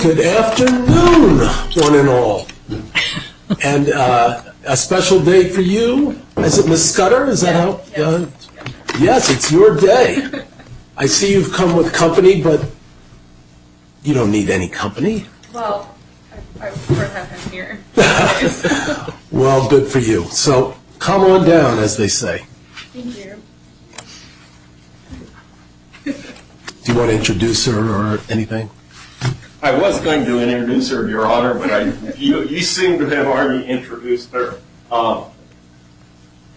Good afternoon, one and all. And a special day for you, is it, Ms. Scudder, is that how? Yes, it's your day. I see you've come with company, but you don't need any company. Well, I work out of here. Well, good for you. So come on down, as they say. Thank you. Do you want to introduce her or anything? I was going to introduce her, Your Honor, but you seem to have already introduced her.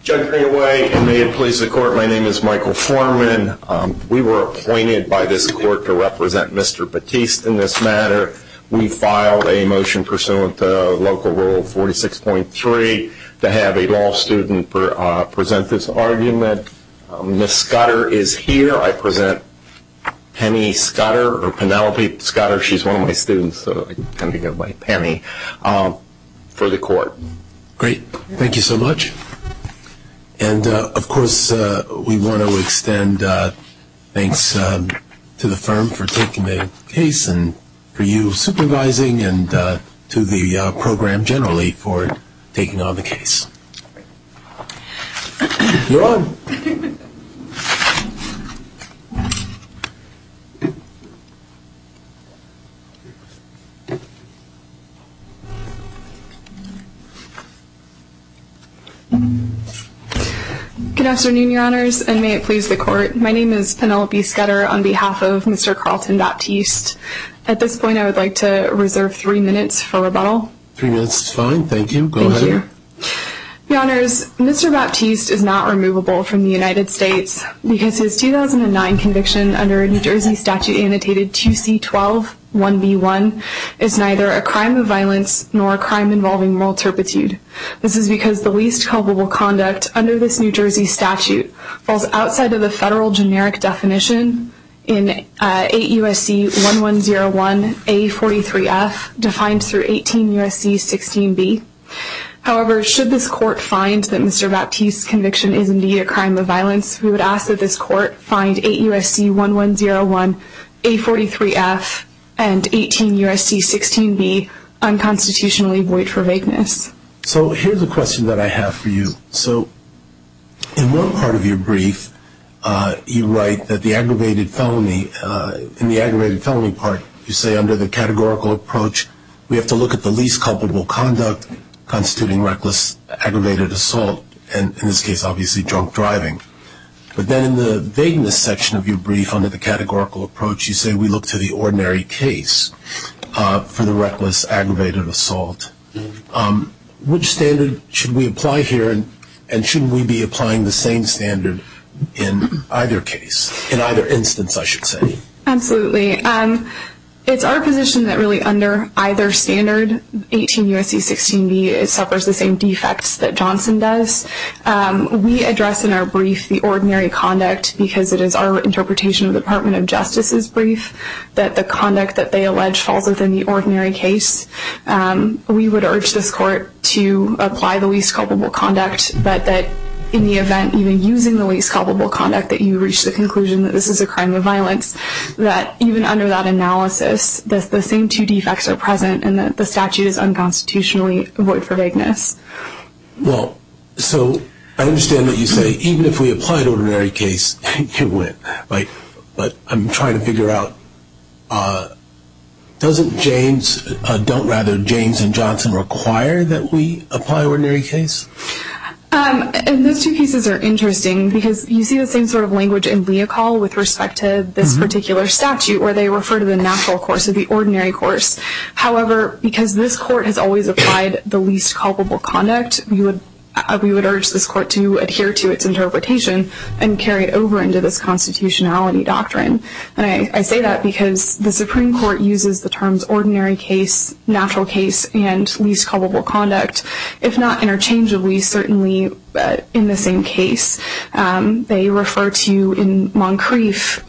Judging away, and may it please the Court, my name is Michael Forman. We were appointed by this Court to represent Mr. Batiste in this matter. We filed a motion pursuant to Local Rule 46.3 to have a law student present this argument. Ms. Scudder is here. I present Penny Scudder, or Penelope Scudder. She's one of my students, so I tend to go by Penny, for the Court. Great. Thank you so much. And, of course, we want to extend thanks to the firm for taking the case, and for you supervising, and to the program generally for taking on the case. You're on. Good afternoon, Your Honors, and may it please the Court. My name is Penelope Scudder on behalf of Mr. Carlton Batiste. At this point, I would like to reserve three minutes for rebuttal. Three minutes is fine. Thank you. Go ahead. Thank you. Your Honors, Mr. Batiste is not removable from the United States because his 2009 conviction under a New Jersey statute annotated 2C.12.1b.1 is neither a crime of violence nor a crime involving moral turpitude. This is because the least culpable conduct under this New Jersey statute falls outside of the federal generic definition in 8 U.S.C. 1101a.43f defined through 18 U.S.C. 16b. However, should this Court find that Mr. Batiste's conviction is indeed a crime of violence, we would ask that this Court find 8 U.S.C. 1101a.43f and 18 U.S.C. 16b unconstitutionally void for vagueness. So here's a question that I have for you. So in one part of your brief, you write that in the aggravated felony part, you say under the categorical approach, we have to look at the least culpable conduct constituting reckless aggravated assault, and in this case, obviously, drunk driving. But then in the vagueness section of your brief under the categorical approach, you say we look to the ordinary case for the reckless aggravated assault. Which standard should we apply here, and shouldn't we be applying the same standard in either case, in either instance, I should say? Absolutely. It's our position that really under either standard, 18 U.S.C. 16b, it suffers the same defects that Johnson does. We address in our brief the ordinary conduct because it is our interpretation of the Department of Justice's brief that the conduct that they allege falls within the ordinary case. We would urge this Court to apply the least culpable conduct, but that in the event, even using the least culpable conduct, we expect that you reach the conclusion that this is a crime of violence, that even under that analysis, the same two defects are present and that the statute is unconstitutionally void for vagueness. Well, so I understand that you say even if we apply the ordinary case, you win. But I'm trying to figure out, don't rather James and Johnson require that we apply the ordinary case? Those two cases are interesting because you see the same sort of language in Leocal with respect to this particular statute where they refer to the natural course of the ordinary course. However, because this Court has always applied the least culpable conduct, we would urge this Court to adhere to its interpretation and carry it over into this constitutionality doctrine. And I say that because the Supreme Court uses the terms ordinary case, natural case, and least culpable conduct, if not interchangeably, certainly in the same case. They refer to, in Moncrief,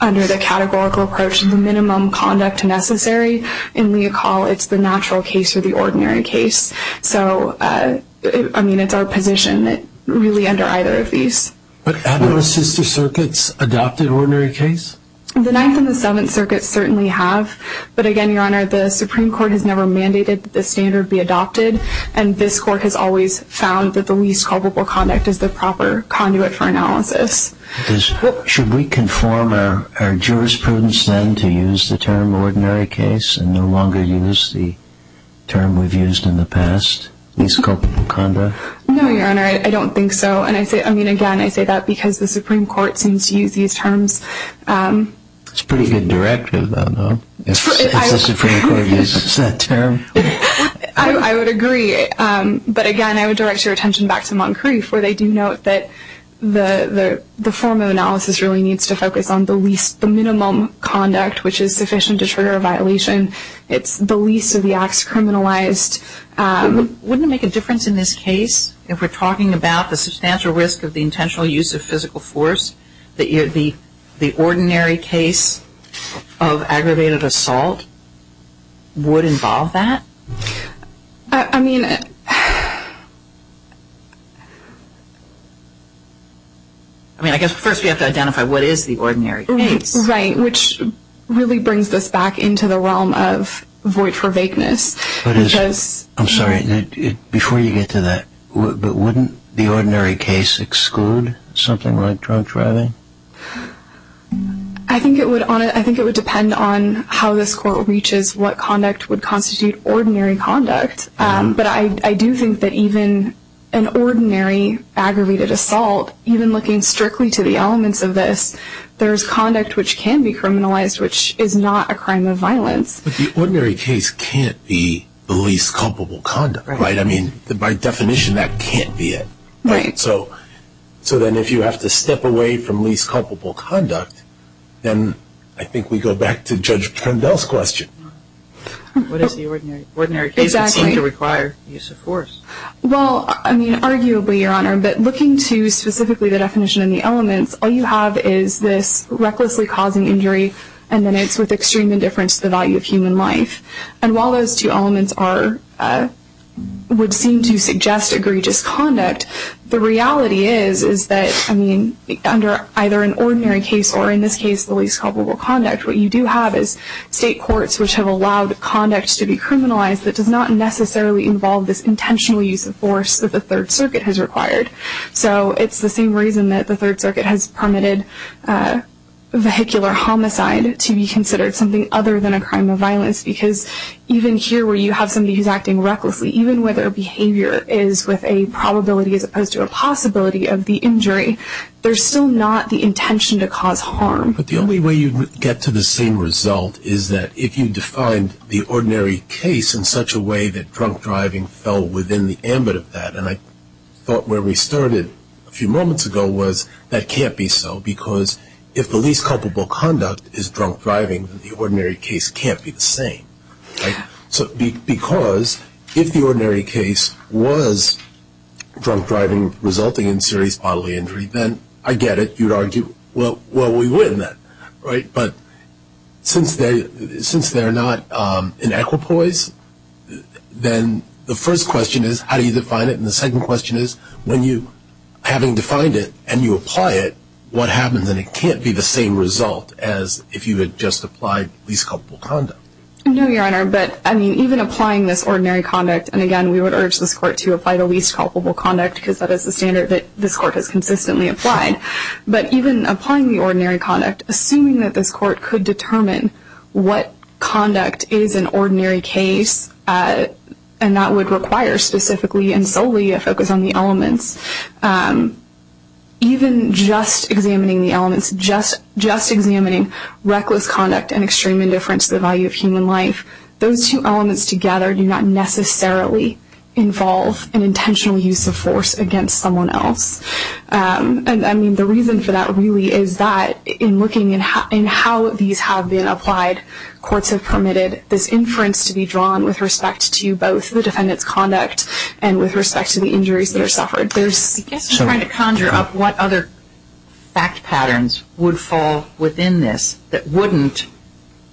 under the categorical approach, the minimum conduct necessary. In Leocal, it's the natural case or the ordinary case. So, I mean, it's our position really under either of these. But haven't the sister circuits adopted ordinary case? The Ninth and the Seventh Circuits certainly have. But again, Your Honor, the Supreme Court has never mandated that this standard be adopted. And this Court has always found that the least culpable conduct is the proper conduit for analysis. Should we conform our jurisprudence, then, to use the term ordinary case and no longer use the term we've used in the past, least culpable conduct? No, Your Honor, I don't think so. And, I mean, again, I say that because the Supreme Court seems to use these terms. It's a pretty good directive, though, no? If the Supreme Court uses that term. I would agree. But, again, I would direct your attention back to Moncrief, where they do note that the form of analysis really needs to focus on the least, the minimum conduct which is sufficient to trigger a violation. It's the least of the acts criminalized. Wouldn't it make a difference in this case, if we're talking about the substantial risk of the intentional use of physical force, that the ordinary case of aggravated assault would involve that? I mean, I guess first we have to identify what is the ordinary case. Right, which really brings us back into the realm of void for vaqueness. I'm sorry, before you get to that, but wouldn't the ordinary case exclude something like drunk driving? I think it would depend on how this court reaches what conduct would constitute ordinary conduct. But I do think that even an ordinary aggravated assault, even looking strictly to the elements of this, there is conduct which can be criminalized, which is not a crime of violence. But the ordinary case can't be the least culpable conduct, right? I mean, by definition that can't be it. So then if you have to step away from least culpable conduct, then I think we go back to Judge Prundell's question. What is the ordinary case that seems to require use of force? Well, I mean, arguably, Your Honor, but looking to specifically the definition and the elements, all you have is this recklessly causing injury, and then it's with extreme indifference to the value of human life. And while those two elements would seem to suggest egregious conduct, the reality is that under either an ordinary case, or in this case the least culpable conduct, what you do have is state courts which have allowed conduct to be criminalized that does not necessarily involve this intentional use of force that the Third Circuit has required. So it's the same reason that the Third Circuit has permitted vehicular homicide to be considered something other than a crime of violence, because even here where you have somebody who's acting recklessly, even where their behavior is with a probability as opposed to a possibility of the injury, there's still not the intention to cause harm. But the only way you get to the same result is that if you define the ordinary case in such a way that drunk driving fell within the ambit of that, and I thought where we started a few moments ago was that can't be so, because if the least culpable conduct is drunk driving, the ordinary case can't be the same. So because if the ordinary case was drunk driving resulting in serious bodily injury, then I get it, you'd argue, well, we win then. But since they're not in equipoise, then the first question is how do you define it, and the second question is when you, having defined it and you apply it, what happens, and it can't be the same result as if you had just applied least culpable conduct. No, Your Honor, but even applying this ordinary conduct, and again we would urge this Court to apply the least culpable conduct because that is the standard that this Court has consistently applied, but even applying the ordinary conduct, assuming that this Court could determine what conduct is an ordinary case, and that would require specifically and solely a focus on the elements, even just examining the elements, just examining reckless conduct and extreme indifference to the value of human life, those two elements together do not necessarily involve an intentional use of force against someone else. I mean, the reason for that really is that in looking at how these have been applied, courts have permitted this inference to be drawn with respect to both the defendant's conduct and with respect to the injuries that are suffered. I guess I'm trying to conjure up what other fact patterns would fall within this that wouldn't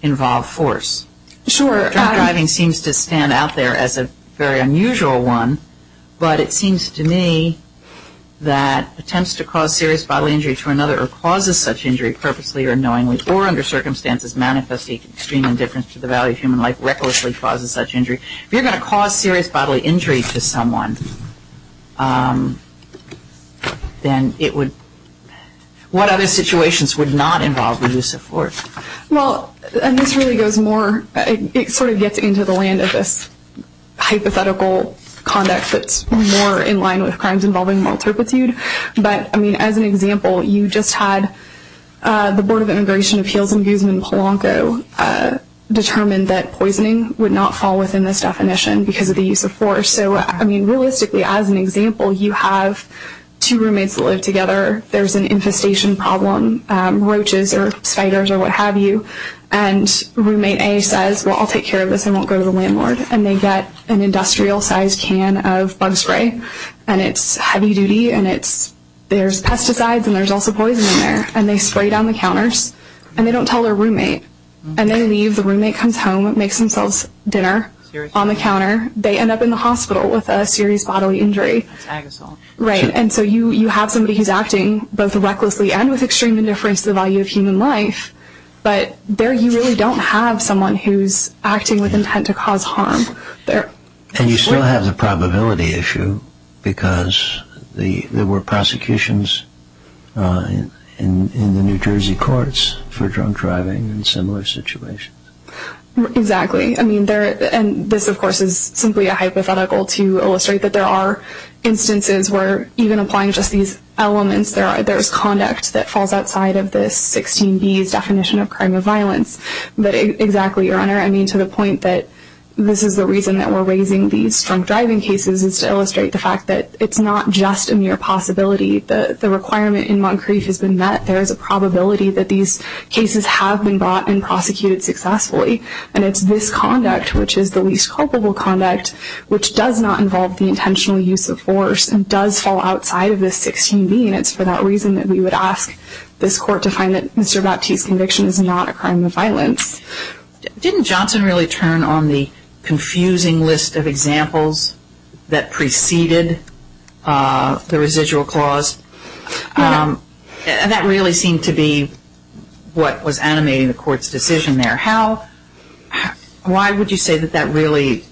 involve force. Sure. Drunk driving seems to stand out there as a very unusual one, but it seems to me that attempts to cause serious bodily injury to another or causes such injury purposely or unknowingly or under circumstances manifesting extreme indifference to the value of human life recklessly causes such injury. If you're going to cause serious bodily injury to someone, then it would, what other situations would not involve the use of force? Well, and this really goes more, it sort of gets into the land of this hypothetical conduct that's more in line with crimes involving moral turpitude. But, I mean, as an example, you just had the Board of Immigration Appeals in Guzman, Polanco determine that poisoning would not fall within this definition because of the use of force. So, I mean, realistically, as an example, you have two roommates that live together. There's an infestation problem, roaches or spiders or what have you, and roommate A says, well, I'll take care of this, I won't go to the landlord. And they get an industrial-sized can of bug spray, and it's heavy-duty, and there's pesticides and there's also poison in there. And they spray down the counters, and they don't tell their roommate. And they leave, the roommate comes home, makes themselves dinner on the counter. They end up in the hospital with a serious bodily injury. That's agosol. Right, and so you have somebody who's acting both recklessly and with extreme indifference to the value of human life, but there you really don't have someone who's acting with intent to cause harm. And you still have the probability issue because there were prosecutions in the New Jersey courts for drunk driving and similar situations. Exactly, and this, of course, is simply a hypothetical to illustrate that there are instances where even applying just these elements, there's conduct that falls outside of this 16B's definition of crime of violence. But exactly, Your Honor, I mean to the point that this is the reason that we're raising these drunk driving cases is to illustrate the fact that it's not just a mere possibility. The requirement in Moncrief has been met. There is a probability that these cases have been brought and prosecuted successfully. And it's this conduct, which is the least culpable conduct, which does not involve the intentional use of force and does fall outside of this 16B. And it's for that reason that we would ask this court to find that Mr. Baptiste's conviction is not a crime of violence. Didn't Johnson really turn on the confusing list of examples that preceded the residual clause? No. That really seemed to be what was animating the court's decision there. Why would you say that that really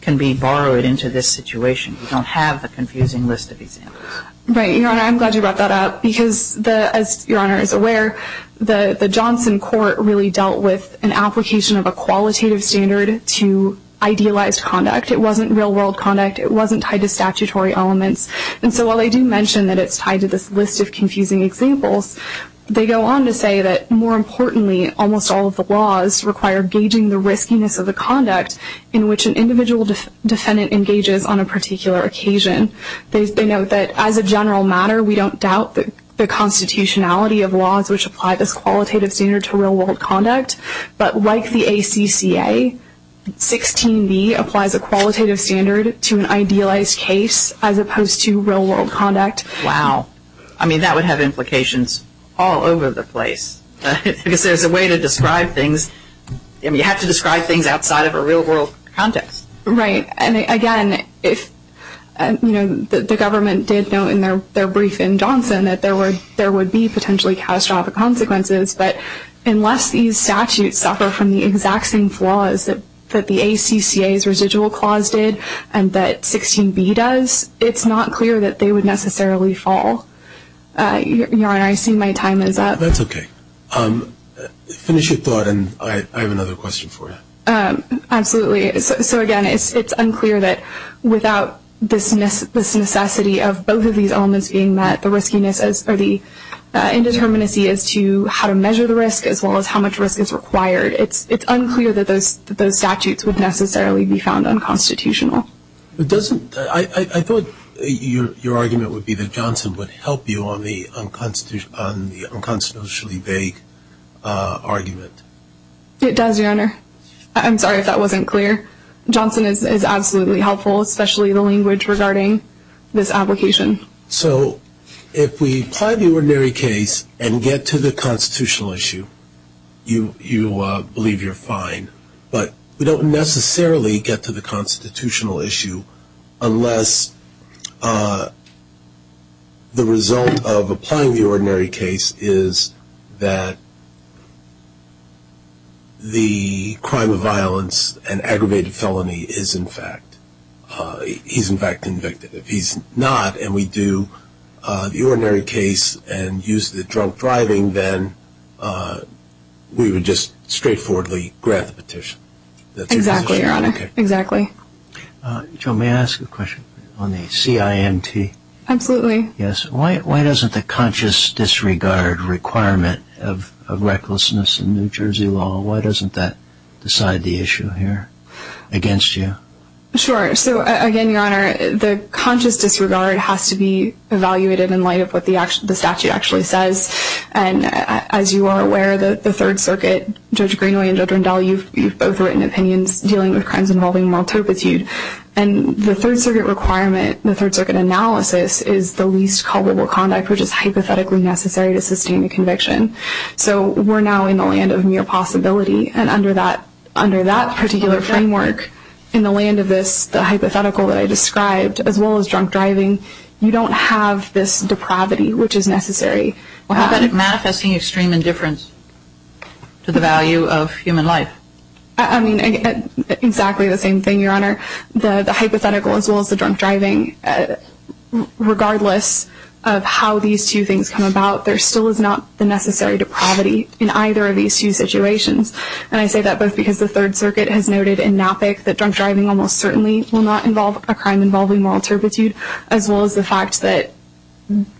can be borrowed into this situation? You don't have the confusing list of examples. Right. Your Honor, I'm glad you brought that up because, as Your Honor is aware, the Johnson court really dealt with an application of a qualitative standard to idealized conduct. It wasn't real-world conduct. It wasn't tied to statutory elements. And so while they do mention that it's tied to this list of confusing examples, they go on to say that, more importantly, almost all of the laws require gauging the riskiness of the conduct in which an individual defendant engages on a particular occasion. They note that, as a general matter, we don't doubt the constitutionality of laws which apply this qualitative standard to real-world conduct. But like the ACCA, 16B applies a qualitative standard to an idealized case as opposed to real-world conduct. Wow. I mean, that would have implications all over the place because there's a way to describe things. I mean, you have to describe things outside of a real-world context. Right. And, again, you know, the government did note in their brief in Johnson that there would be potentially catastrophic consequences. But unless these statutes suffer from the exact same flaws that the ACCA's residual clause did and that 16B does, it's not clear that they would necessarily fall. Your Honor, I see my time is up. That's okay. Finish your thought, and I have another question for you. Absolutely. So, again, it's unclear that without this necessity of both of these elements being met, the riskiness or the indeterminacy as to how to measure the risk as well as how much risk is required, it's unclear that those statutes would necessarily be found unconstitutional. I thought your argument would be that Johnson would help you on the unconstitutionally vague argument. It does, Your Honor. I'm sorry if that wasn't clear. Johnson is absolutely helpful, especially the language regarding this application. So if we apply the ordinary case and get to the constitutional issue, you believe you're fine. But we don't necessarily get to the constitutional issue unless the result of applying the ordinary case is that the crime of violence and aggravated felony is, in fact, he's, in fact, convicted. If he's not and we do the ordinary case and use the drunk driving, then we would just straightforwardly grant the petition. Exactly, Your Honor. Exactly. Joan, may I ask a question on the CIMT? Absolutely. Yes. Why doesn't the conscious disregard requirement of recklessness in New Jersey law, why doesn't that decide the issue here against you? Sure. So, again, Your Honor, the conscious disregard has to be evaluated in light of what the statute actually says. And as you are aware, the Third Circuit, Judge Greenway and Judge Rendell, you've both written opinions dealing with crimes involving moral turpitude. And the Third Circuit requirement, the Third Circuit analysis, is the least culpable conduct which is hypothetically necessary to sustain a conviction. So we're now in the land of mere possibility. And under that particular framework, in the land of this, the hypothetical that I described, as well as drunk driving, you don't have this depravity which is necessary. What about manifesting extreme indifference to the value of human life? I mean, exactly the same thing, Your Honor. The hypothetical as well as the drunk driving, regardless of how these two things come about, there still is not the necessary depravity in either of these two situations. And I say that both because the Third Circuit has noted in NAPIC that drunk driving almost certainly will not involve a crime involving moral turpitude, as well as the fact that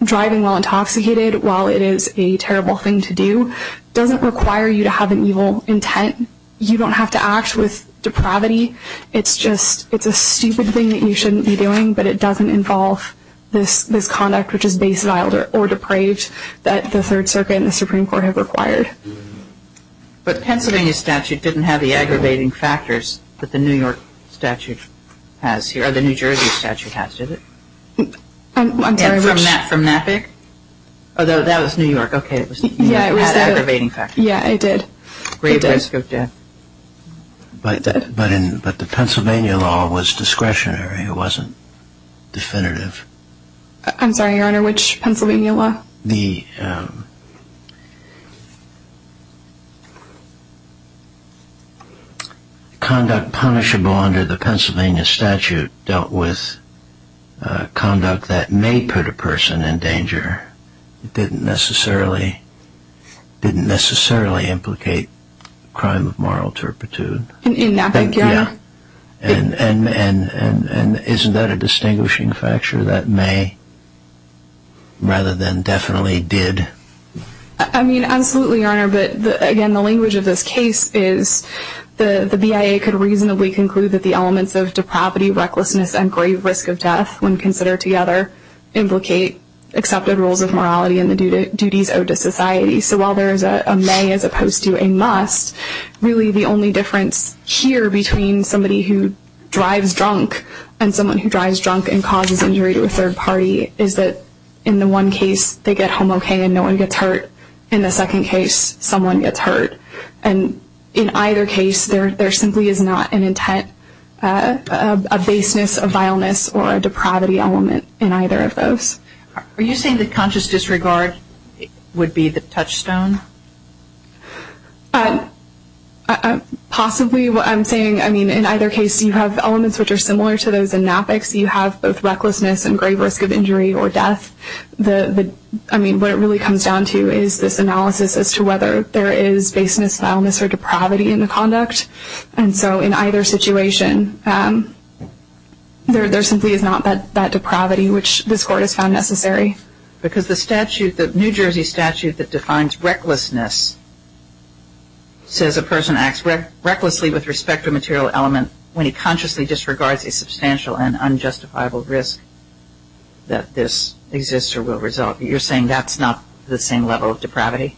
driving while intoxicated, while it is a terrible thing to do, doesn't require you to have an evil intent. You don't have to act with depravity. It's just a stupid thing that you shouldn't be doing, but it doesn't involve this conduct which is base-filed or depraved that the Third Circuit and the Supreme Court have required. But Pennsylvania statute didn't have the aggravating factors that the New York statute has here, or the New Jersey statute has, did it? From NAPIC? Although that was New York. Okay, it was New York. It had aggravating factors. Yeah, it did. Great risk of death. But the Pennsylvania law was discretionary. It wasn't definitive. I'm sorry, Your Honor, which Pennsylvania law? The conduct punishable under the Pennsylvania statute dealt with conduct that may put a person in danger. It didn't necessarily implicate crime of moral turpitude. In NAPIC, Your Honor? Yeah. And isn't that a distinguishing factor, that may rather than definitely did? I mean, absolutely, Your Honor. But, again, the language of this case is the BIA could reasonably conclude that the elements of depravity, recklessness, and grave risk of death when considered together implicate accepted rules of morality and the duties owed to society. So while there is a may as opposed to a must, really the only difference here between somebody who drives drunk and someone who drives drunk and causes injury to a third party is that in the one case they get home okay and no one gets hurt, in the second case someone gets hurt. And in either case there simply is not an intent, a baseness, a vileness, or a depravity element in either of those. Are you saying that conscious disregard would be the touchstone? Possibly. What I'm saying, I mean, in either case you have elements which are similar to those in NAPICs. You have both recklessness and grave risk of injury or death. I mean, what it really comes down to is this analysis as to whether there is baseness, vileness, or depravity in the conduct. And so in either situation there simply is not that depravity which this Court has found necessary. Because the statute, the New Jersey statute that defines recklessness, says a person acts recklessly with respect to a material element when he consciously disregards a substantial and unjustifiable risk that this exists or will result. You're saying that's not the same level of depravity?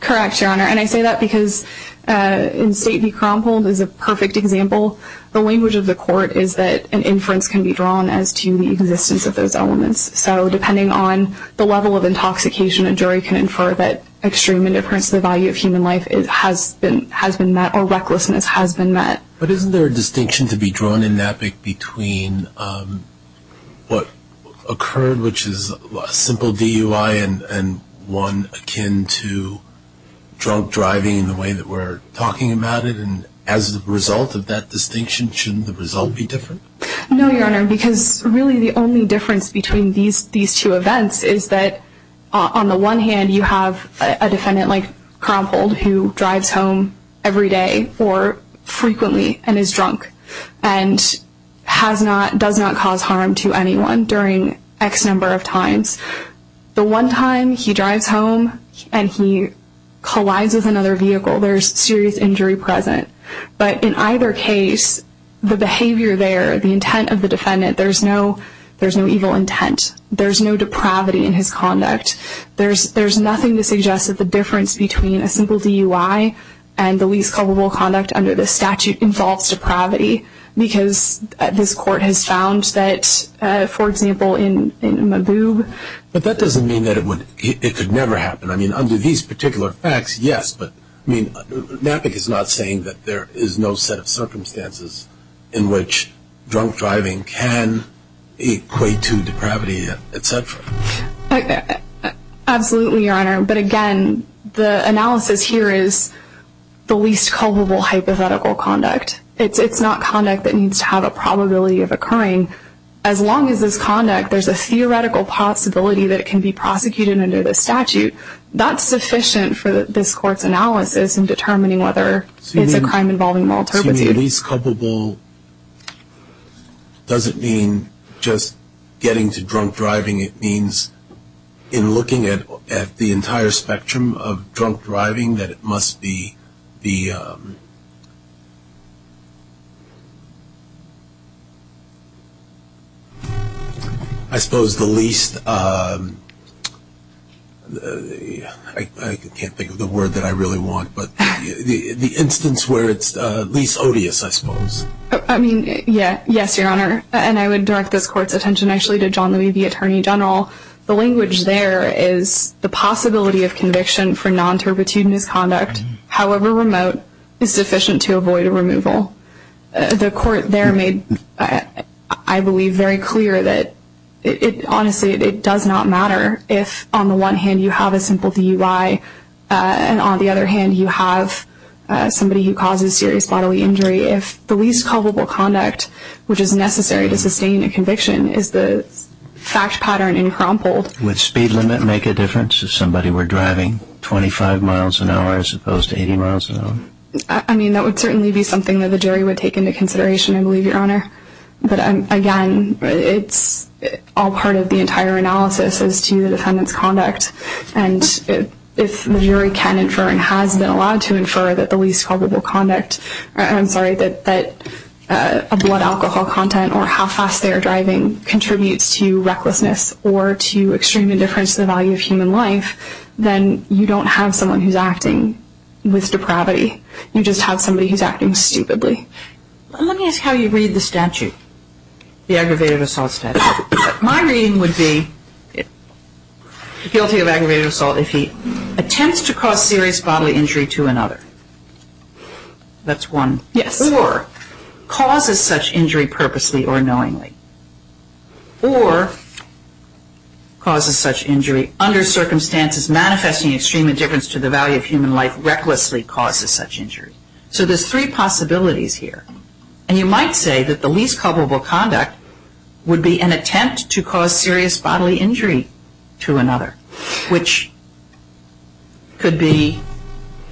Correct, Your Honor. And I say that because in State v. Kromhold is a perfect example. The language of the Court is that an inference can be drawn as to the existence of those elements. So depending on the level of intoxication a jury can infer that extreme indifference to the value of human life has been met or recklessness has been met. But isn't there a distinction to be drawn in NAPIC between what occurred, which is a simple DUI and one akin to drunk driving in the way that we're talking about it? And as a result of that distinction, shouldn't the result be different? No, Your Honor, because really the only difference between these two events is that on the one hand you have a defendant like Kromhold who drives home every day or frequently and is drunk and does not cause harm to anyone during X number of times. The one time he drives home and he collides with another vehicle, there's serious injury present. But in either case, the behavior there, the intent of the defendant, there's no evil intent. There's no depravity in his conduct. There's nothing to suggest that the difference between a simple DUI and the least culpable conduct under this statute involves depravity because this Court has found that, for example, in Maboub. But that doesn't mean that it could never happen. I mean, under these particular facts, yes, but NAPIC is not saying that there is no set of circumstances in which drunk driving can equate to depravity, etc. Absolutely, Your Honor, but again, the analysis here is the least culpable hypothetical conduct. It's not conduct that needs to have a probability of occurring. As long as this conduct, there's a theoretical possibility that it can be prosecuted under this statute, that's sufficient for this Court's analysis in determining whether it's a crime involving moral turpitude. When you say least culpable, does it mean just getting to drunk driving? It means in looking at the entire spectrum of drunk driving that it must be the, I suppose, the least, I can't think of the word that I really want, but the instance where it's the least odious, I suppose. I mean, yes, Your Honor, and I would direct this Court's attention, actually, to John Louis, the Attorney General. The language there is the possibility of conviction for non-turpitude misconduct, however remote, is sufficient to avoid a removal. The Court there made, I believe, very clear that, honestly, it does not matter if, on the one hand, you have a simple DUI, and on the other hand, you have somebody who causes serious bodily injury, if the least culpable conduct, which is necessary to sustain a conviction, is the fact pattern encrumpled. Would speed limit make a difference if somebody were driving 25 miles an hour as opposed to 80 miles an hour? I mean, that would certainly be something that the jury would take into consideration, I believe, Your Honor. But, again, it's all part of the entire analysis as to the defendant's conduct. And if the jury can infer and has been allowed to infer that the least culpable conduct, I'm sorry, that a blood alcohol content or how fast they are driving contributes to recklessness or to extreme indifference to the value of human life, then you don't have someone who's acting with depravity. You just have somebody who's acting stupidly. Let me ask how you read the statute, the aggravated assault statute. My reading would be guilty of aggravated assault if he attempts to cause serious bodily injury to another. That's one. Yes. Or causes such injury purposely or knowingly. Or causes such injury under circumstances manifesting extreme indifference to the value of human life, recklessly causes such injury. So there's three possibilities here. And you might say that the least culpable conduct would be an attempt to cause serious bodily injury to another, which could be,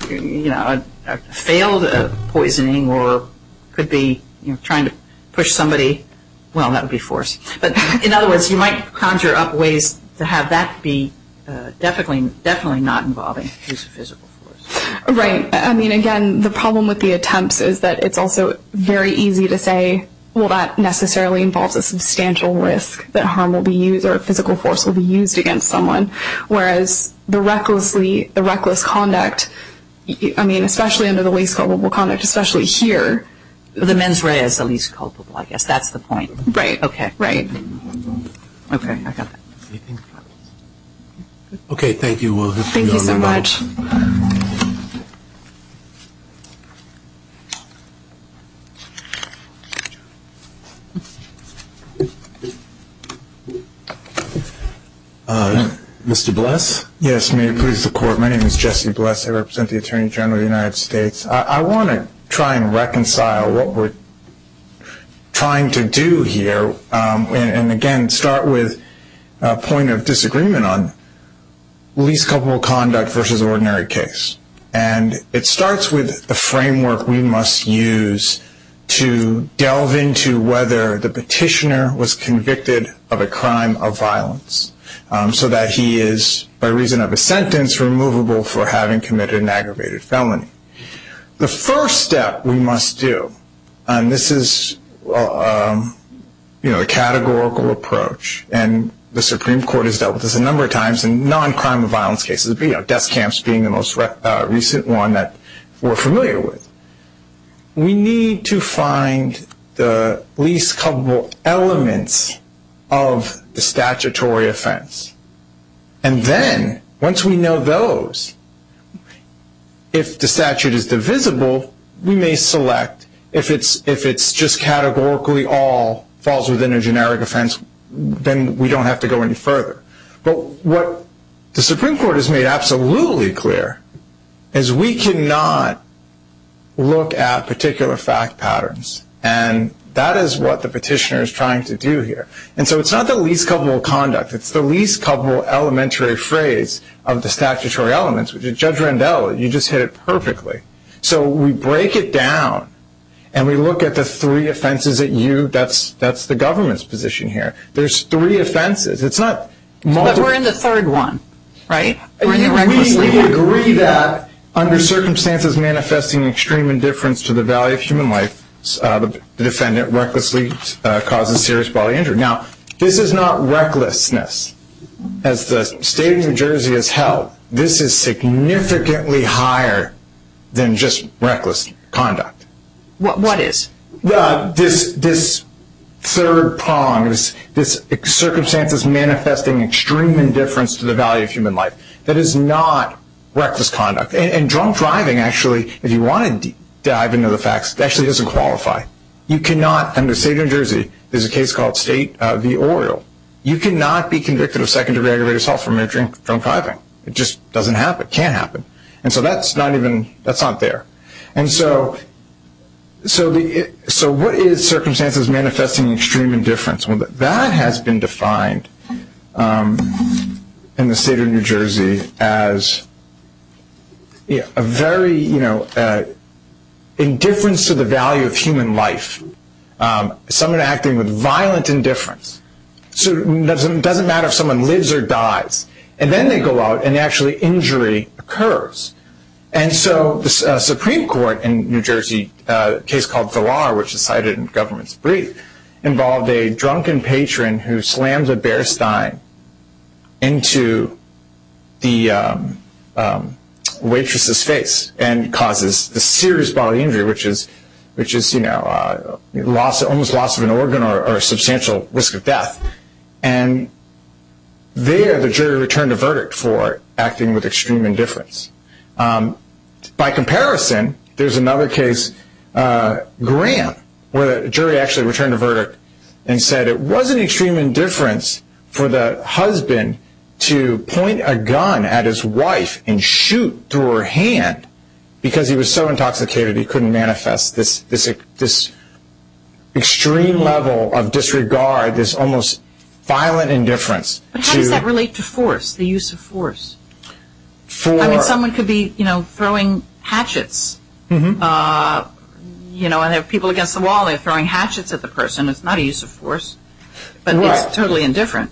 you know, failed poisoning or could be, you know, trying to push somebody. Well, that would be force. But, in other words, you might conjure up ways to have that be definitely not involving physical force. Right. I mean, again, the problem with the attempts is that it's also very easy to say, well, that necessarily involves a substantial risk that harm will be used or a physical force will be used against someone. Whereas the recklessly, the reckless conduct, I mean, especially under the least culpable conduct, especially here. The mens rea is the least culpable, I guess. That's the point. Right. Okay. Right. Okay. I got that. Okay. Thank you. Thank you so much. Mr. Bless. Yes, may it please the Court. My name is Jesse Bless. I represent the Attorney General of the United States. I want to try and reconcile what we're trying to do here and, again, start with a point of disagreement on least culpable conduct versus ordinary case. And it starts with the framework we must use to delve into whether the petitioner was convicted of a crime of violence so that he is, by reason of a sentence, removable for having committed an aggravated felony. The first step we must do, and this is a categorical approach, and the Supreme Court has dealt with this a number of times in non-crime of violence cases, death camps being the most recent one that we're familiar with. We need to find the least culpable elements of the statutory offense. And then, once we know those, if the statute is divisible, we may select. If it's just categorically all falls within a generic offense, then we don't have to go any further. But what the Supreme Court has made absolutely clear is we cannot look at particular fact patterns, and that is what the petitioner is trying to do here. And so it's not the least culpable conduct. It's the least culpable elementary phrase of the statutory elements. Judge Rendell, you just hit it perfectly. So we break it down, and we look at the three offenses that you, that's the government's position here. There's three offenses. But we're in the third one, right? We agree that under circumstances manifesting extreme indifference to the value of human life, the defendant recklessly causes serious bodily injury. Now, this is not recklessness. As the state of New Jersey has held, this is significantly higher than just reckless conduct. What is? This third prong, this circumstances manifesting extreme indifference to the value of human life, that is not reckless conduct. And drunk driving, actually, if you want to dive into the facts, actually doesn't qualify. You cannot, under the state of New Jersey, there's a case called State v. Oriel, you cannot be convicted of second-degree aggravated assault for majoring drunk driving. It just doesn't happen. It can't happen. And so that's not even, that's not there. And so what is circumstances manifesting extreme indifference? Well, that has been defined in the state of New Jersey as a very, you know, indifference to the value of human life. Someone acting with violent indifference. So it doesn't matter if someone lives or dies. And then they go out and actually injury occurs. And so the Supreme Court in New Jersey, a case called Villar, which is cited in the government's brief, involved a drunken patron who slams a Bear Stein into the waitress's face and causes the serious bodily injury, which is, you know, almost loss of an organ or a substantial risk of death. And there the jury returned a verdict for acting with extreme indifference. By comparison, there's another case, Grant, where a jury actually returned a verdict and said it wasn't extreme indifference for the husband to point a gun at his wife and shoot through her hand because he was so intoxicated he couldn't manifest this extreme level of disregard, this almost violent indifference. But how does that relate to force, the use of force? I mean, someone could be, you know, throwing hatchets, you know, and there are people against the wall and they're throwing hatchets at the person. It's not a use of force, but it's totally indifferent.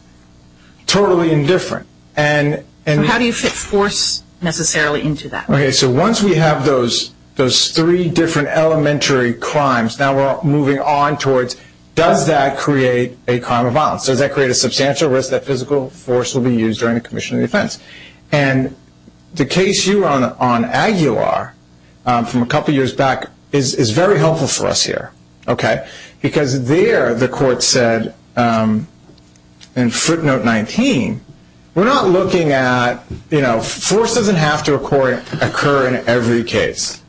Totally indifferent. And how do you fit force necessarily into that? Okay, so once we have those three different elementary crimes, now we're moving on towards does that create a crime of violence? Does that create a substantial risk that physical force will be used during the commission of defense? And the case you were on on Aguilar from a couple years back is very helpful for us here, okay, because there the court said in footnote 19, we're not looking at, you know, force doesn't have to occur in every case.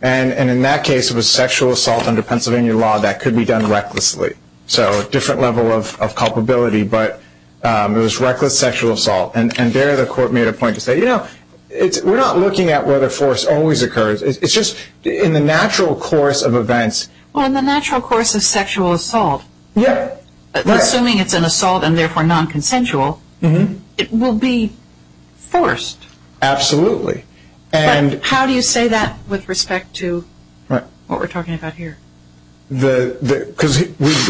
And in that case it was sexual assault under Pennsylvania law that could be done recklessly. So a different level of culpability, but it was reckless sexual assault. And there the court made a point to say, you know, we're not looking at whether force always occurs. It's just in the natural course of events. Well, in the natural course of sexual assault, assuming it's an assault and therefore nonconsensual, it will be forced. Absolutely. But how do you say that with respect to what we're talking about here? Because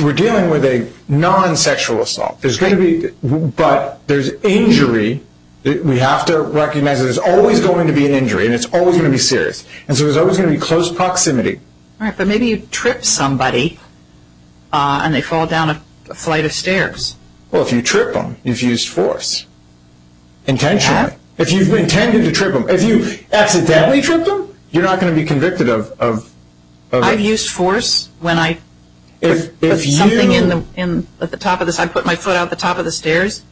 we're dealing with a non-sexual assault. But there's injury. We have to recognize there's always going to be an injury, and it's always going to be serious. And so there's always going to be close proximity. All right, but maybe you trip somebody and they fall down a flight of stairs. Well, if you trip them, you've used force intentionally. If you've intended to trip them, if you accidentally tripped them, you're not going to be convicted of it. I've used force when I put something at the top of the stairs. I put my foot out the top of the stairs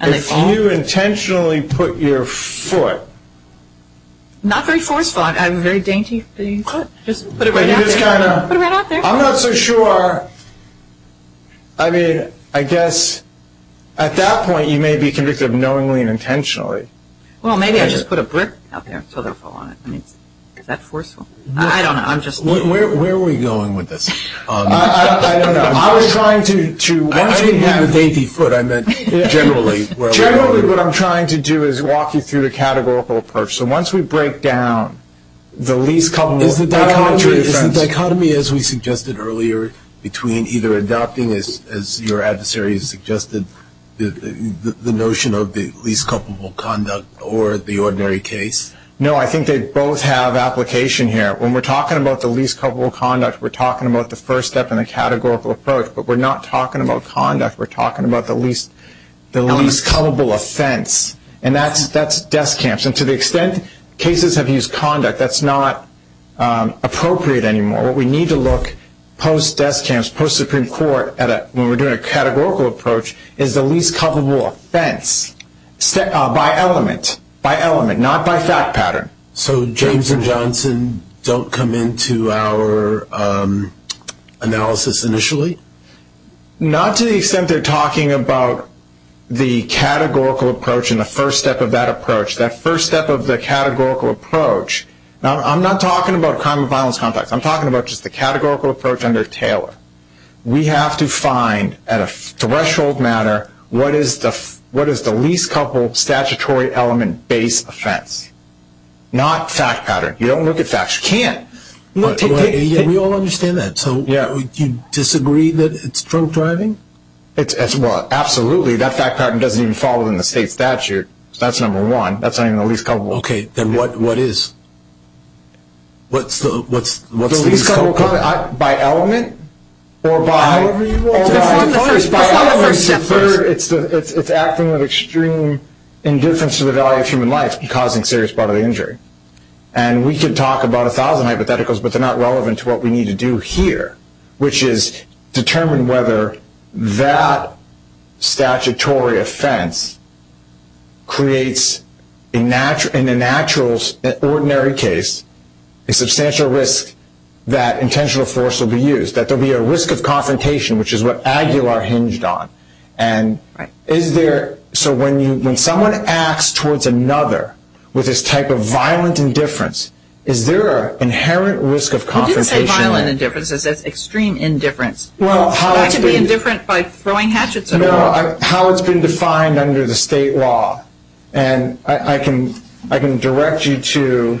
and they fall. If you intentionally put your foot. Not very forceful. I have a very dainty foot. Just put it right out there. I'm not so sure. I mean, I guess at that point you may be convicted knowingly and intentionally. Well, maybe I just put a brick out there so they'll fall on it. Is that forceful? I don't know. Where are we going with this? I don't know. I was trying to. I didn't have a dainty foot. I meant generally. Generally what I'm trying to do is walk you through the categorical approach. So once we break down the least culpable. Is the dichotomy, as we suggested earlier, between either adopting, as your adversary has suggested, the notion of the least culpable conduct or the ordinary case? No, I think they both have application here. When we're talking about the least culpable conduct, we're talking about the first step in the categorical approach. But we're not talking about conduct. We're talking about the least culpable offense. And that's death camps. And to the extent cases have used conduct, that's not appropriate anymore. What we need to look, post-death camps, post-Supreme Court, when we're doing a categorical approach is the least culpable offense by element. Not by fact pattern. So James and Johnson don't come into our analysis initially? Not to the extent they're talking about the categorical approach and the first step of that approach. That first step of the categorical approach. I'm not talking about crime and violence context. I'm talking about just the categorical approach under Taylor. We have to find, at a threshold matter, what is the least culpable statutory element-based offense. Not fact pattern. You don't look at facts. You can't. We all understand that. So you disagree that it's drunk driving? Absolutely. That fact pattern doesn't even fall within the state statute. That's number one. That's not even the least culpable. Okay. Then what is? What's the least culpable? By element? Or by? By element. It's acting with extreme indifference to the value of human life, causing serious bodily injury. And we can talk about a thousand hypotheticals, but they're not relevant to what we need to do here, which is determine whether that statutory offense creates, in an ordinary case, a substantial risk that intentional force will be used, that there will be a risk of confrontation, which is what Aguilar hinged on. So when someone acts towards another with this type of violent indifference, is there an inherent risk of confrontation there? He didn't say violent indifference. He said extreme indifference. Well, how it's been- But I can be indifferent by throwing hatchets at people. No, how it's been defined under the state law. And I can direct you to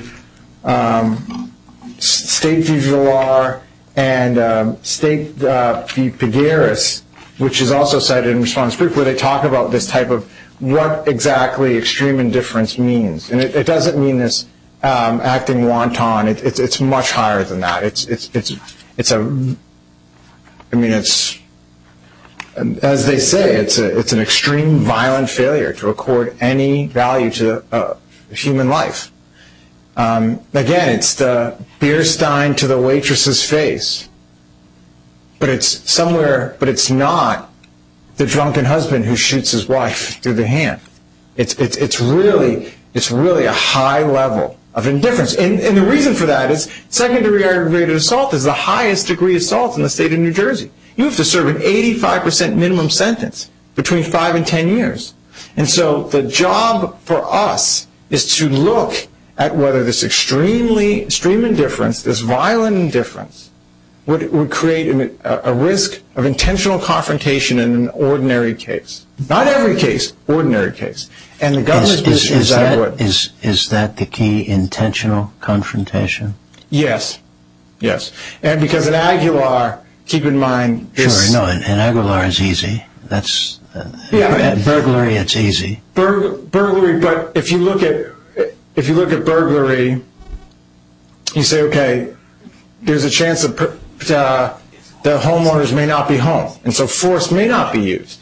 State v. Aguilar and State v. Pagaris, which is also cited in response proof, where they talk about this type of what exactly extreme indifference means. And it doesn't mean this acting wanton. It's much higher than that. I mean, as they say, it's an extreme violent failure to accord any value to human life. Again, it's the beer stein to the waitress's face. But it's not the drunken husband who shoots his wife through the hand. It's really a high level of indifference. And the reason for that is secondary aggravated assault is the highest degree of assault in the state of New Jersey. You have to serve an 85 percent minimum sentence between five and ten years. And so the job for us is to look at whether this extreme indifference, this violent indifference, would create a risk of intentional confrontation in an ordinary case. Not every case, ordinary case. Is that the key, intentional confrontation? Yes, yes. And because in Aguilar, keep in mind... Sure, no, in Aguilar it's easy. At burglary it's easy. Burglary, but if you look at burglary, you say, okay, there's a chance that the homeowners may not be home. And so force may not be used.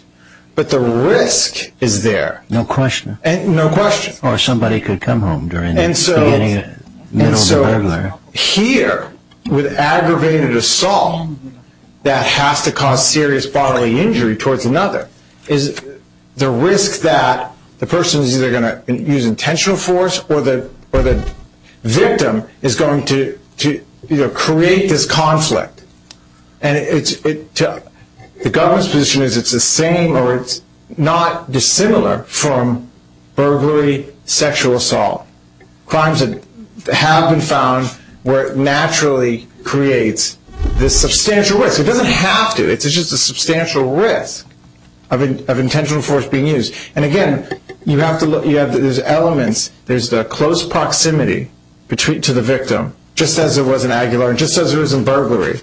But the risk is there. No question. No question. Or somebody could come home during the beginning of middle of the burglary. And so here, with aggravated assault, that has to cause serious bodily injury towards another, is the risk that the person is either going to use intentional force or the victim is going to create this conflict. And the government's position is it's the same or it's not dissimilar from burglary, sexual assault. Crimes that have been found where it naturally creates this substantial risk. It doesn't have to. It's just a substantial risk of intentional force being used. And again, you have to look... There's the close proximity to the victim, just as it was in Aguilar and just as it was in burglary.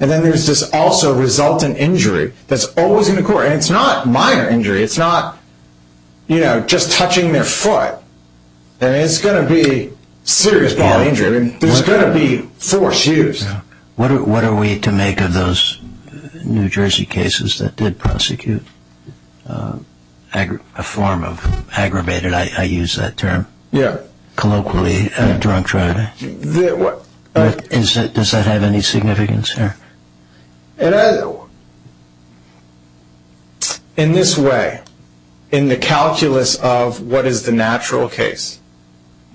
And then there's this also resultant injury that's always in the court. And it's not minor injury. It's not just touching their foot. And it's going to be serious bodily injury. There's going to be force used. What are we to make of those New Jersey cases that did prosecute? A form of aggravated, I use that term colloquially, drunk driving. Does that have any significance here? In this way, in the calculus of what is the natural case,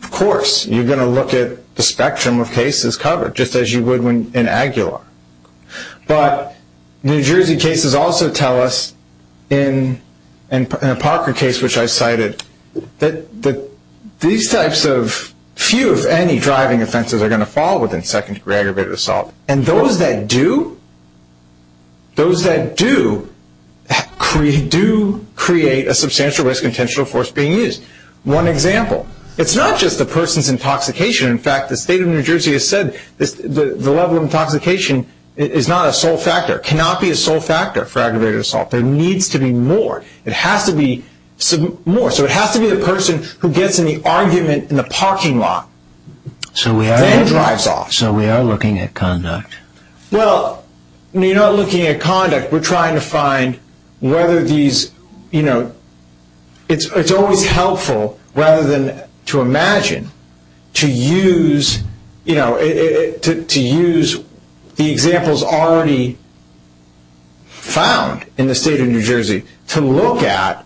of course, you're going to look at the spectrum of cases covered just as you would in Aguilar. But New Jersey cases also tell us, in a Parker case which I cited, that these types of few, if any, driving offenses are going to fall within second-degree aggravated assault. And those that do, those that do, do create a substantial risk of intentional force being used. One example. It's not just the person's intoxication. In fact, the state of New Jersey has said the level of intoxication is not a sole factor, cannot be a sole factor for aggravated assault. There needs to be more. It has to be more. So it has to be the person who gets in the argument in the parking lot and drives off. So we are looking at conduct. Well, you're not looking at conduct. We're trying to find whether these, you know, it's always helpful, rather than to imagine, to use, you know, to use the examples already found in the state of New Jersey to look at,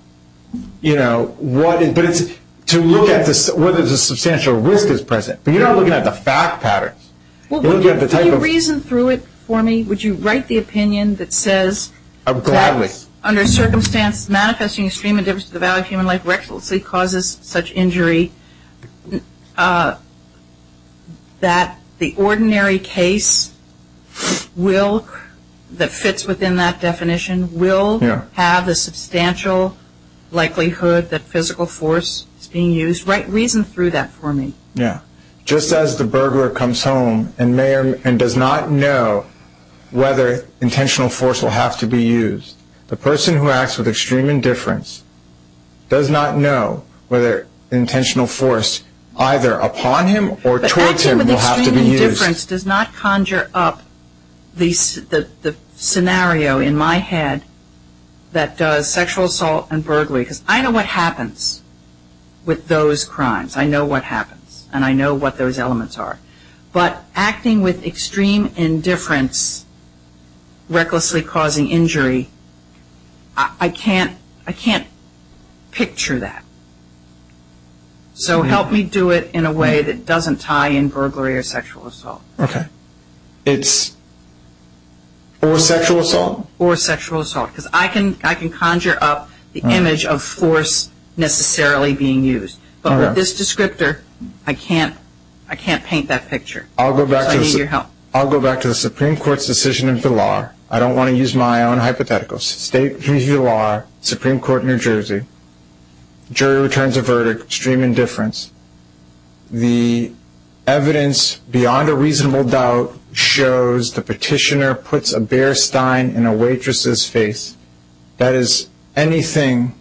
you know, to look at whether there's a substantial risk that's present. But you're not looking at the fact patterns. Can you reason through it for me? Would you write the opinion that says, under circumstance manifesting extreme indifference to the value of human life, recklessly causes such injury that the ordinary case will, that fits within that definition, will have a substantial likelihood that physical force is being used. Reason through that for me. Yeah. Just as the burglar comes home and does not know whether intentional force will have to be used, the person who acts with extreme indifference does not know whether intentional force, either upon him or towards him, will have to be used. But acting with extreme indifference does not conjure up the scenario in my head that does sexual assault and burglary, because I know what happens with those crimes. I know what happens, and I know what those elements are. But acting with extreme indifference, recklessly causing injury, I can't picture that. So help me do it in a way that doesn't tie in burglary or sexual assault. Okay. It's, or sexual assault. Or sexual assault, because I can conjure up the image of force necessarily being used. But with this descriptor, I can't paint that picture. So I need your help. I'll go back to the Supreme Court's decision in Villar. I don't want to use my own hypotheticals. State v. Villar, Supreme Court, New Jersey. Jury returns a verdict, extreme indifference. The evidence beyond a reasonable doubt shows the petitioner puts a bare stein in a waitress's face. That is anything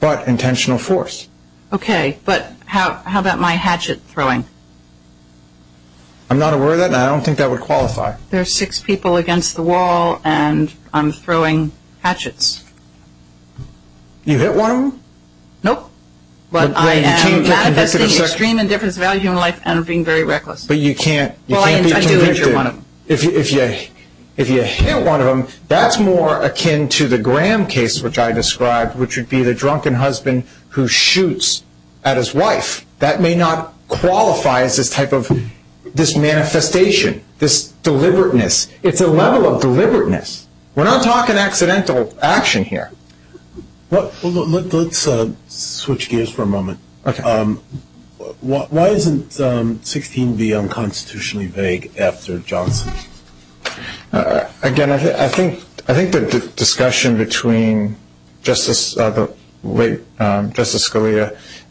but intentional force. Okay. But how about my hatchet throwing? I'm not aware of that, and I don't think that would qualify. There are six people against the wall, and I'm throwing hatchets. You hit one of them? Nope. But I am manifesting extreme indifference to the value of human life and being very reckless. But you can't be convicted. Well, I do injure one of them. If you hit one of them, that's more akin to the Graham case, which I described, which would be the drunken husband who shoots at his wife. That may not qualify as this type of manifestation, this deliberateness. It's a level of deliberateness. We're not talking accidental action here. Let's switch gears for a moment. Okay. Why isn't 16b unconstitutionally vague after Johnson? Again, I think the discussion between Justice Scalia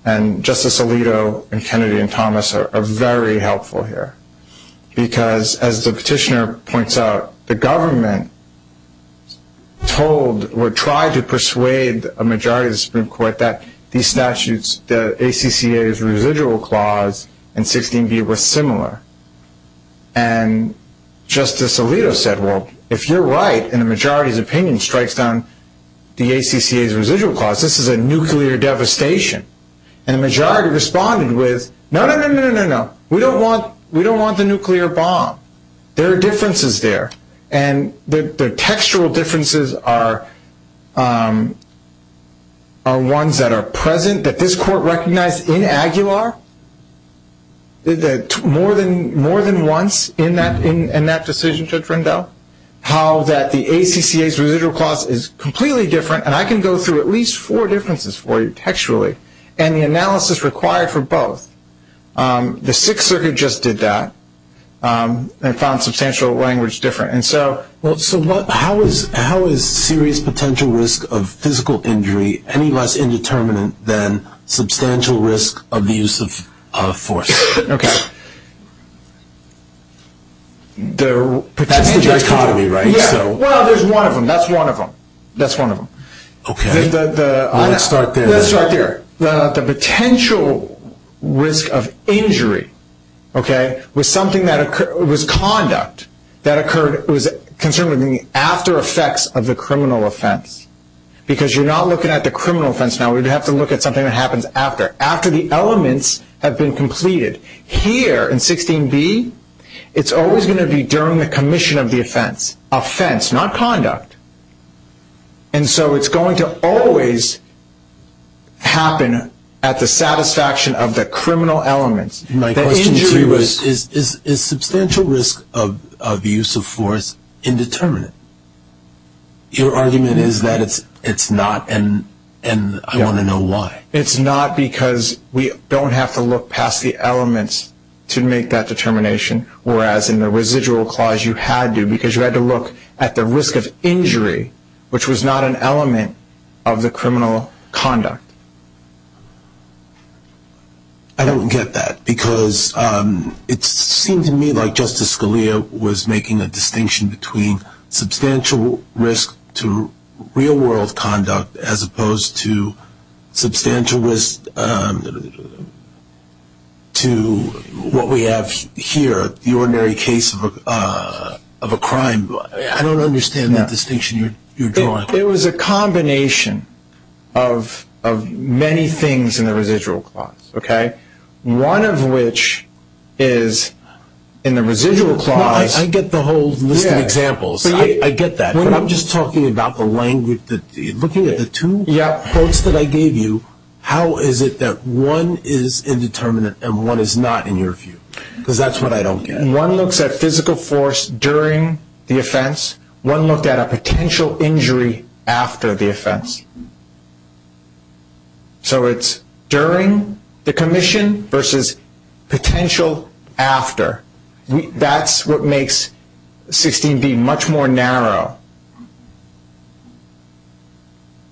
and Justice Alito and Kennedy and Thomas are very helpful here because, as the petitioner points out, the government told or tried to persuade a majority of the Supreme Court that these statutes, the ACCA's residual clause and 16b, were similar. And Justice Alito said, well, if you're right, and the majority's opinion strikes down the ACCA's residual clause, this is a nuclear devastation. And the majority responded with, no, no, no, no, no, no. We don't want the nuclear bomb. There are differences there. And the textual differences are ones that are present, that this Court recognized in Aguilar more than once in that decision, Judge Rendell, how that the ACCA's residual clause is completely different. And I can go through at least four differences for you textually and the analysis required for both. The Sixth Circuit just did that and found substantial language difference. So how is serious potential risk of physical injury any less indeterminate than substantial risk of the use of force? Okay. That's the dichotomy, right? Yeah. Well, there's one of them. That's one of them. That's one of them. Okay. Let's start there. Let's start there. The potential risk of injury, okay, was conduct that occurred, was concerned with the after effects of the criminal offense. Because you're not looking at the criminal offense now. We'd have to look at something that happens after, after the elements have been completed. Here in 16b, it's always going to be during the commission of the offense, offense, not conduct. And so it's going to always happen at the satisfaction of the criminal elements. My question to you is, is substantial risk of use of force indeterminate? Your argument is that it's not, and I want to know why. It's not because we don't have to look past the elements to make that determination, whereas in the residual clause you had to because you had to look at the risk of injury, which was not an element of the criminal conduct. I don't get that because it seemed to me like Justice Scalia was making a distinction between substantial risk to real world conduct as opposed to substantial risk to what we have here, the ordinary case of a crime. I don't understand that distinction you're drawing. It was a combination of many things in the residual clause. One of which is in the residual clause. I get the whole list of examples. I get that. I'm just talking about the language. Looking at the two quotes that I gave you, how is it that one is indeterminate and one is not in your view? Because that's what I don't get. One looks at physical force during the offense. One looked at a potential injury after the offense. So it's during the commission versus potential after. That's what makes 16b much more narrow.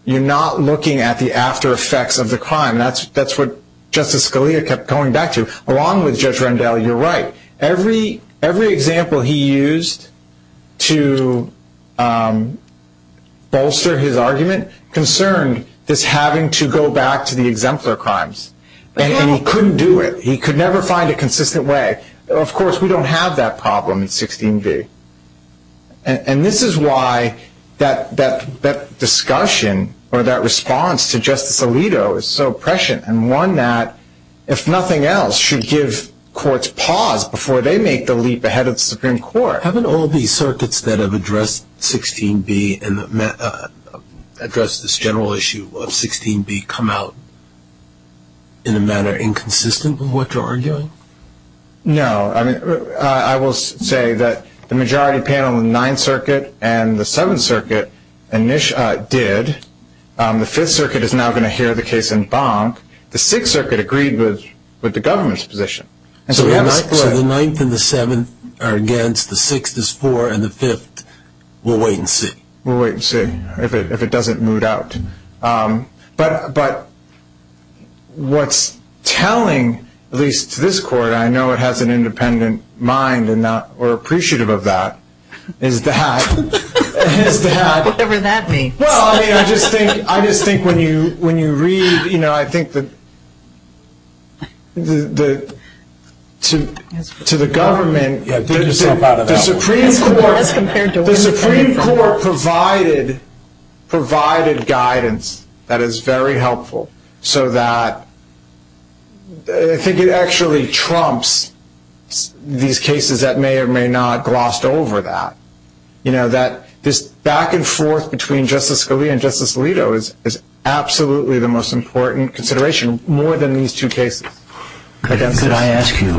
You're not looking at the after effects of the crime. That's what Justice Scalia kept going back to, along with Judge Rendell. You're right. Every example he used to bolster his argument concerned this having to go back to the exemplar crimes. And he couldn't do it. He could never find a consistent way. Of course, we don't have that problem in 16b. And this is why that discussion or that response to Justice Alito is so prescient and one that, if nothing else, should give courts pause before they make the leap ahead of the Supreme Court. Haven't all these circuits that have addressed 16b and addressed this general issue of 16b come out in a manner inconsistent with what you're arguing? No. I will say that the majority panel in the 9th Circuit and the 7th Circuit did. The 5th Circuit is now going to hear the case in Bank. The 6th Circuit agreed with the government's position. So the 9th and the 7th are against, the 6th is for, and the 5th, we'll wait and see. We'll wait and see if it doesn't moot out. But what's telling, at least to this court, I know it has an independent mind and we're appreciative of that, is that... Whatever that means. Well, I just think when you read, you know, I think that to the government... Get yourself out of that one. The Supreme Court provided guidance that is very helpful, so that I think it actually trumps these cases that may or may not glossed over that. You know, that this back and forth between Justice Scalia and Justice Alito is absolutely the most important consideration, more than these two cases. Could I ask you,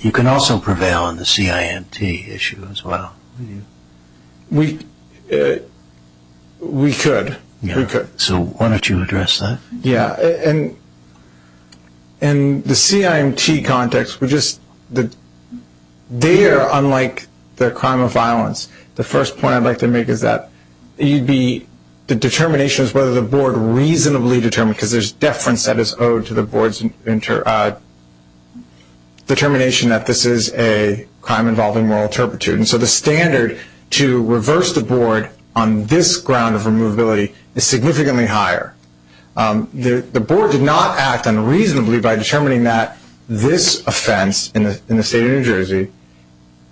you can also prevail on the CIMT issue as well. We could. So why don't you address that? Yeah, and the CIMT context, they are unlike the crime of violence. The first point I'd like to make is that the determination is whether the board reasonably determined, because there's deference that is owed to the board's determination that this is a crime involving moral turpitude. And so the standard to reverse the board on this ground of removability is significantly higher. The board did not act unreasonably by determining that this offense in the state of New Jersey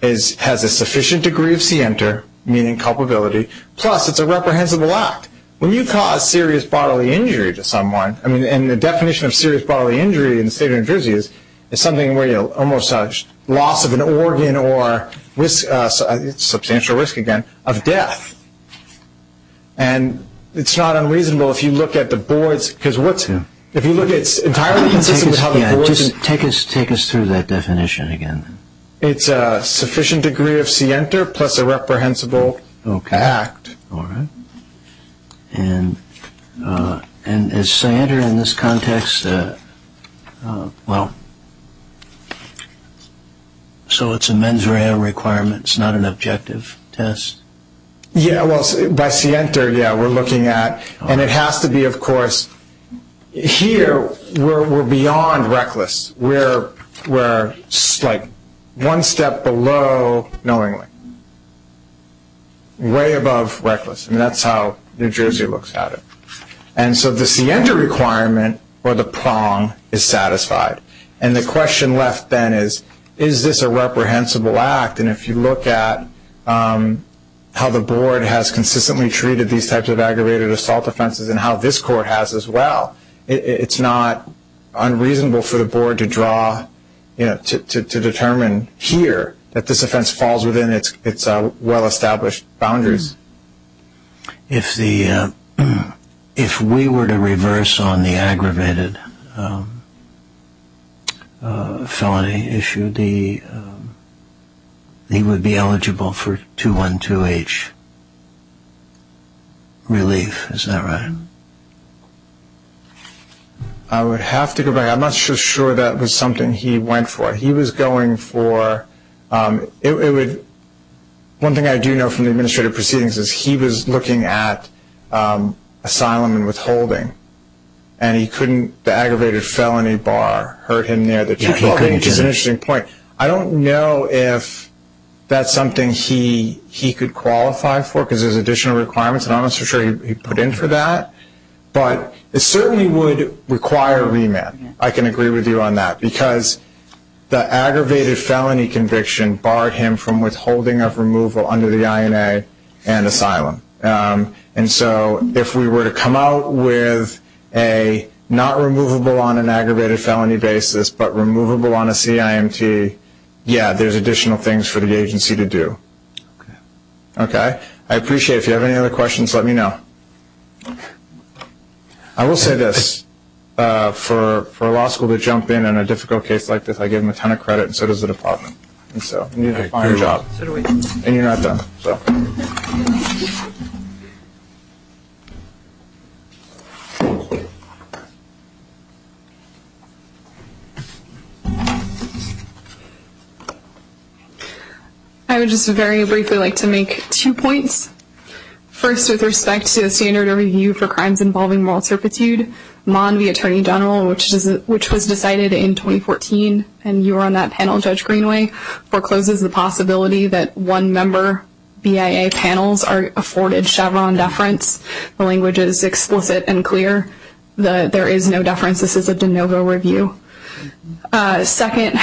has a sufficient degree of scienter, meaning culpability, plus it's a reprehensible act. When you cause serious bodily injury to someone, and the definition of serious bodily injury in the state of New Jersey is something where you almost have loss of an organ or substantial risk, again, of death. And it's not unreasonable if you look at the board's, because if you look at, it's entirely consistent with how the board's... Take us through that definition again. It's a sufficient degree of scienter plus a reprehensible act. Okay. All right. And is scienter in this context, well, so it's a mens rea requirement, it's not an objective test? Yeah, well, by scienter, yeah, we're looking at... And it has to be, of course, here we're beyond reckless. We're one step below knowingly, way above reckless. And that's how New Jersey looks at it. And so the scienter requirement, or the prong, is satisfied. And the question left then is, is this a reprehensible act? And if you look at how the board has consistently treated these types of aggravated assault offenses and how this court has as well, it's not unreasonable for the board to draw, to determine here that this offense falls within its well-established boundaries. If we were to reverse on the aggravated felony issue, he would be eligible for 212H relief, is that right? I would have to go back. I'm not sure that was something he went for. He was going for... One thing I do know from the administrative proceedings is he was looking at asylum and withholding. And he couldn't, the aggravated felony bar hurt him there. That's an interesting point. I don't know if that's something he could qualify for because there's additional requirements, and I'm not so sure he'd put in for that. But it certainly would require remand. I can agree with you on that because the aggravated felony conviction barred him from withholding of removal under the INA and asylum. And so if we were to come out with a not removable on an aggravated felony basis, but removable on a CIMT, yeah, there's additional things for the agency to do. I appreciate it. If you have any other questions, let me know. I will say this. For a law school to jump in on a difficult case like this, I give them a ton of credit, and so does the department. And so you need to find a job. And you're not done. I would just very briefly like to make two points. First, with respect to the standard of review for crimes involving moral turpitude, Mon v. Attorney General, which was decided in 2014, and you were on that panel, Judge Greenway, forecloses the possibility that one-member BIA panels are afforded Chevron deference. The language is explicit and clear. There is no deference. This is a de novo review. Second,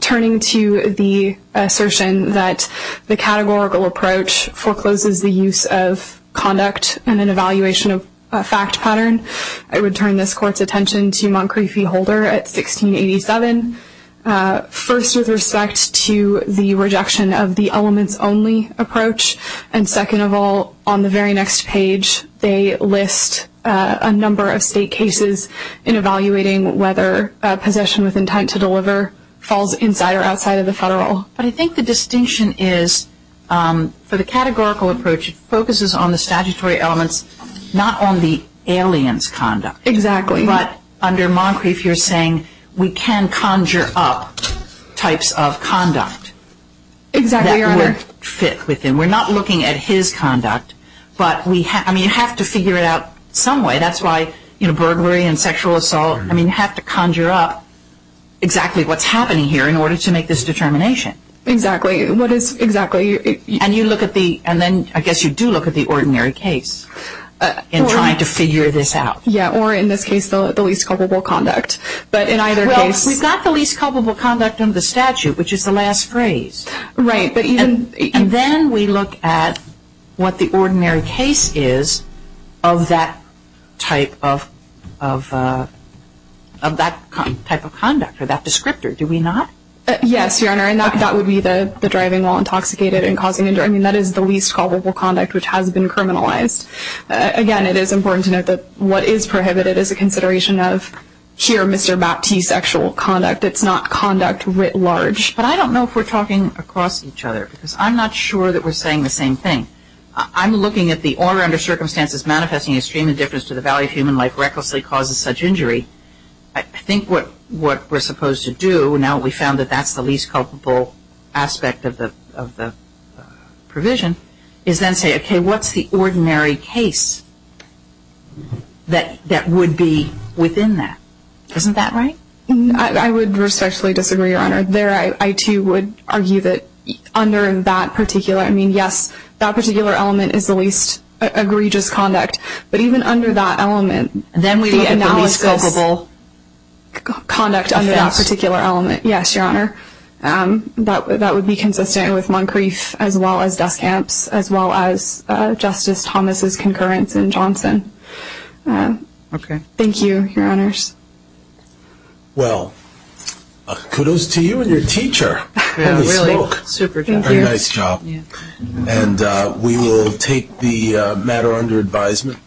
turning to the assertion that the categorical approach forecloses the use of conduct and an evaluation of a fact pattern, I would turn this Court's attention to Montgomery v. Holder at 1687. First, with respect to the rejection of the elements-only approach, and second of all, on the very next page, they list a number of state cases in evaluating whether possession with intent to deliver falls inside or outside of the federal. But I think the distinction is, for the categorical approach, it focuses on the statutory elements, not on the alien's conduct. Exactly. But under Moncrieff, you're saying we can conjure up types of conduct. Exactly, Your Honor. That would fit with him. We're not looking at his conduct. But, I mean, you have to figure it out some way. That's why, you know, burglary and sexual assault, I mean, you have to conjure up exactly what's happening here in order to make this determination. Exactly. What is exactly? And you look at the, and then I guess you do look at the ordinary case in trying to figure this out. Yeah, or in this case, the least culpable conduct. But in either case- Well, we've got the least culpable conduct under the statute, which is the last phrase. Right. And then we look at what the ordinary case is of that type of conduct or that descriptor. Do we not? Yes, Your Honor. And that would be the driving while intoxicated and causing injury. I mean, that is the least culpable conduct, which has been criminalized. Again, it is important to note that what is prohibited is a consideration of here Mr. Baptiste's actual conduct. It's not conduct writ large. But I don't know if we're talking across each other because I'm not sure that we're saying the same thing. I'm looking at the order under circumstances manifesting extreme indifference to the value of human life recklessly causes such injury. I think what we're supposed to do, now that we've found that that's the least culpable aspect of the provision, is then say, okay, what's the ordinary case that would be within that? I would respectfully disagree, Your Honor. There I, too, would argue that under that particular, I mean, yes, that particular element is the least egregious conduct. But even under that element, the analysis. Then we look at the least culpable. Conduct under that particular element. Yes, Your Honor. That would be consistent with Moncrief as well as dust camps as well as Justice Thomas's concurrence in Johnson. Okay. Thank you, Your Honors. Well, kudos to you and your teacher. Yeah, really. Super. Thank you. Nice job. And we will take the matter under advisement.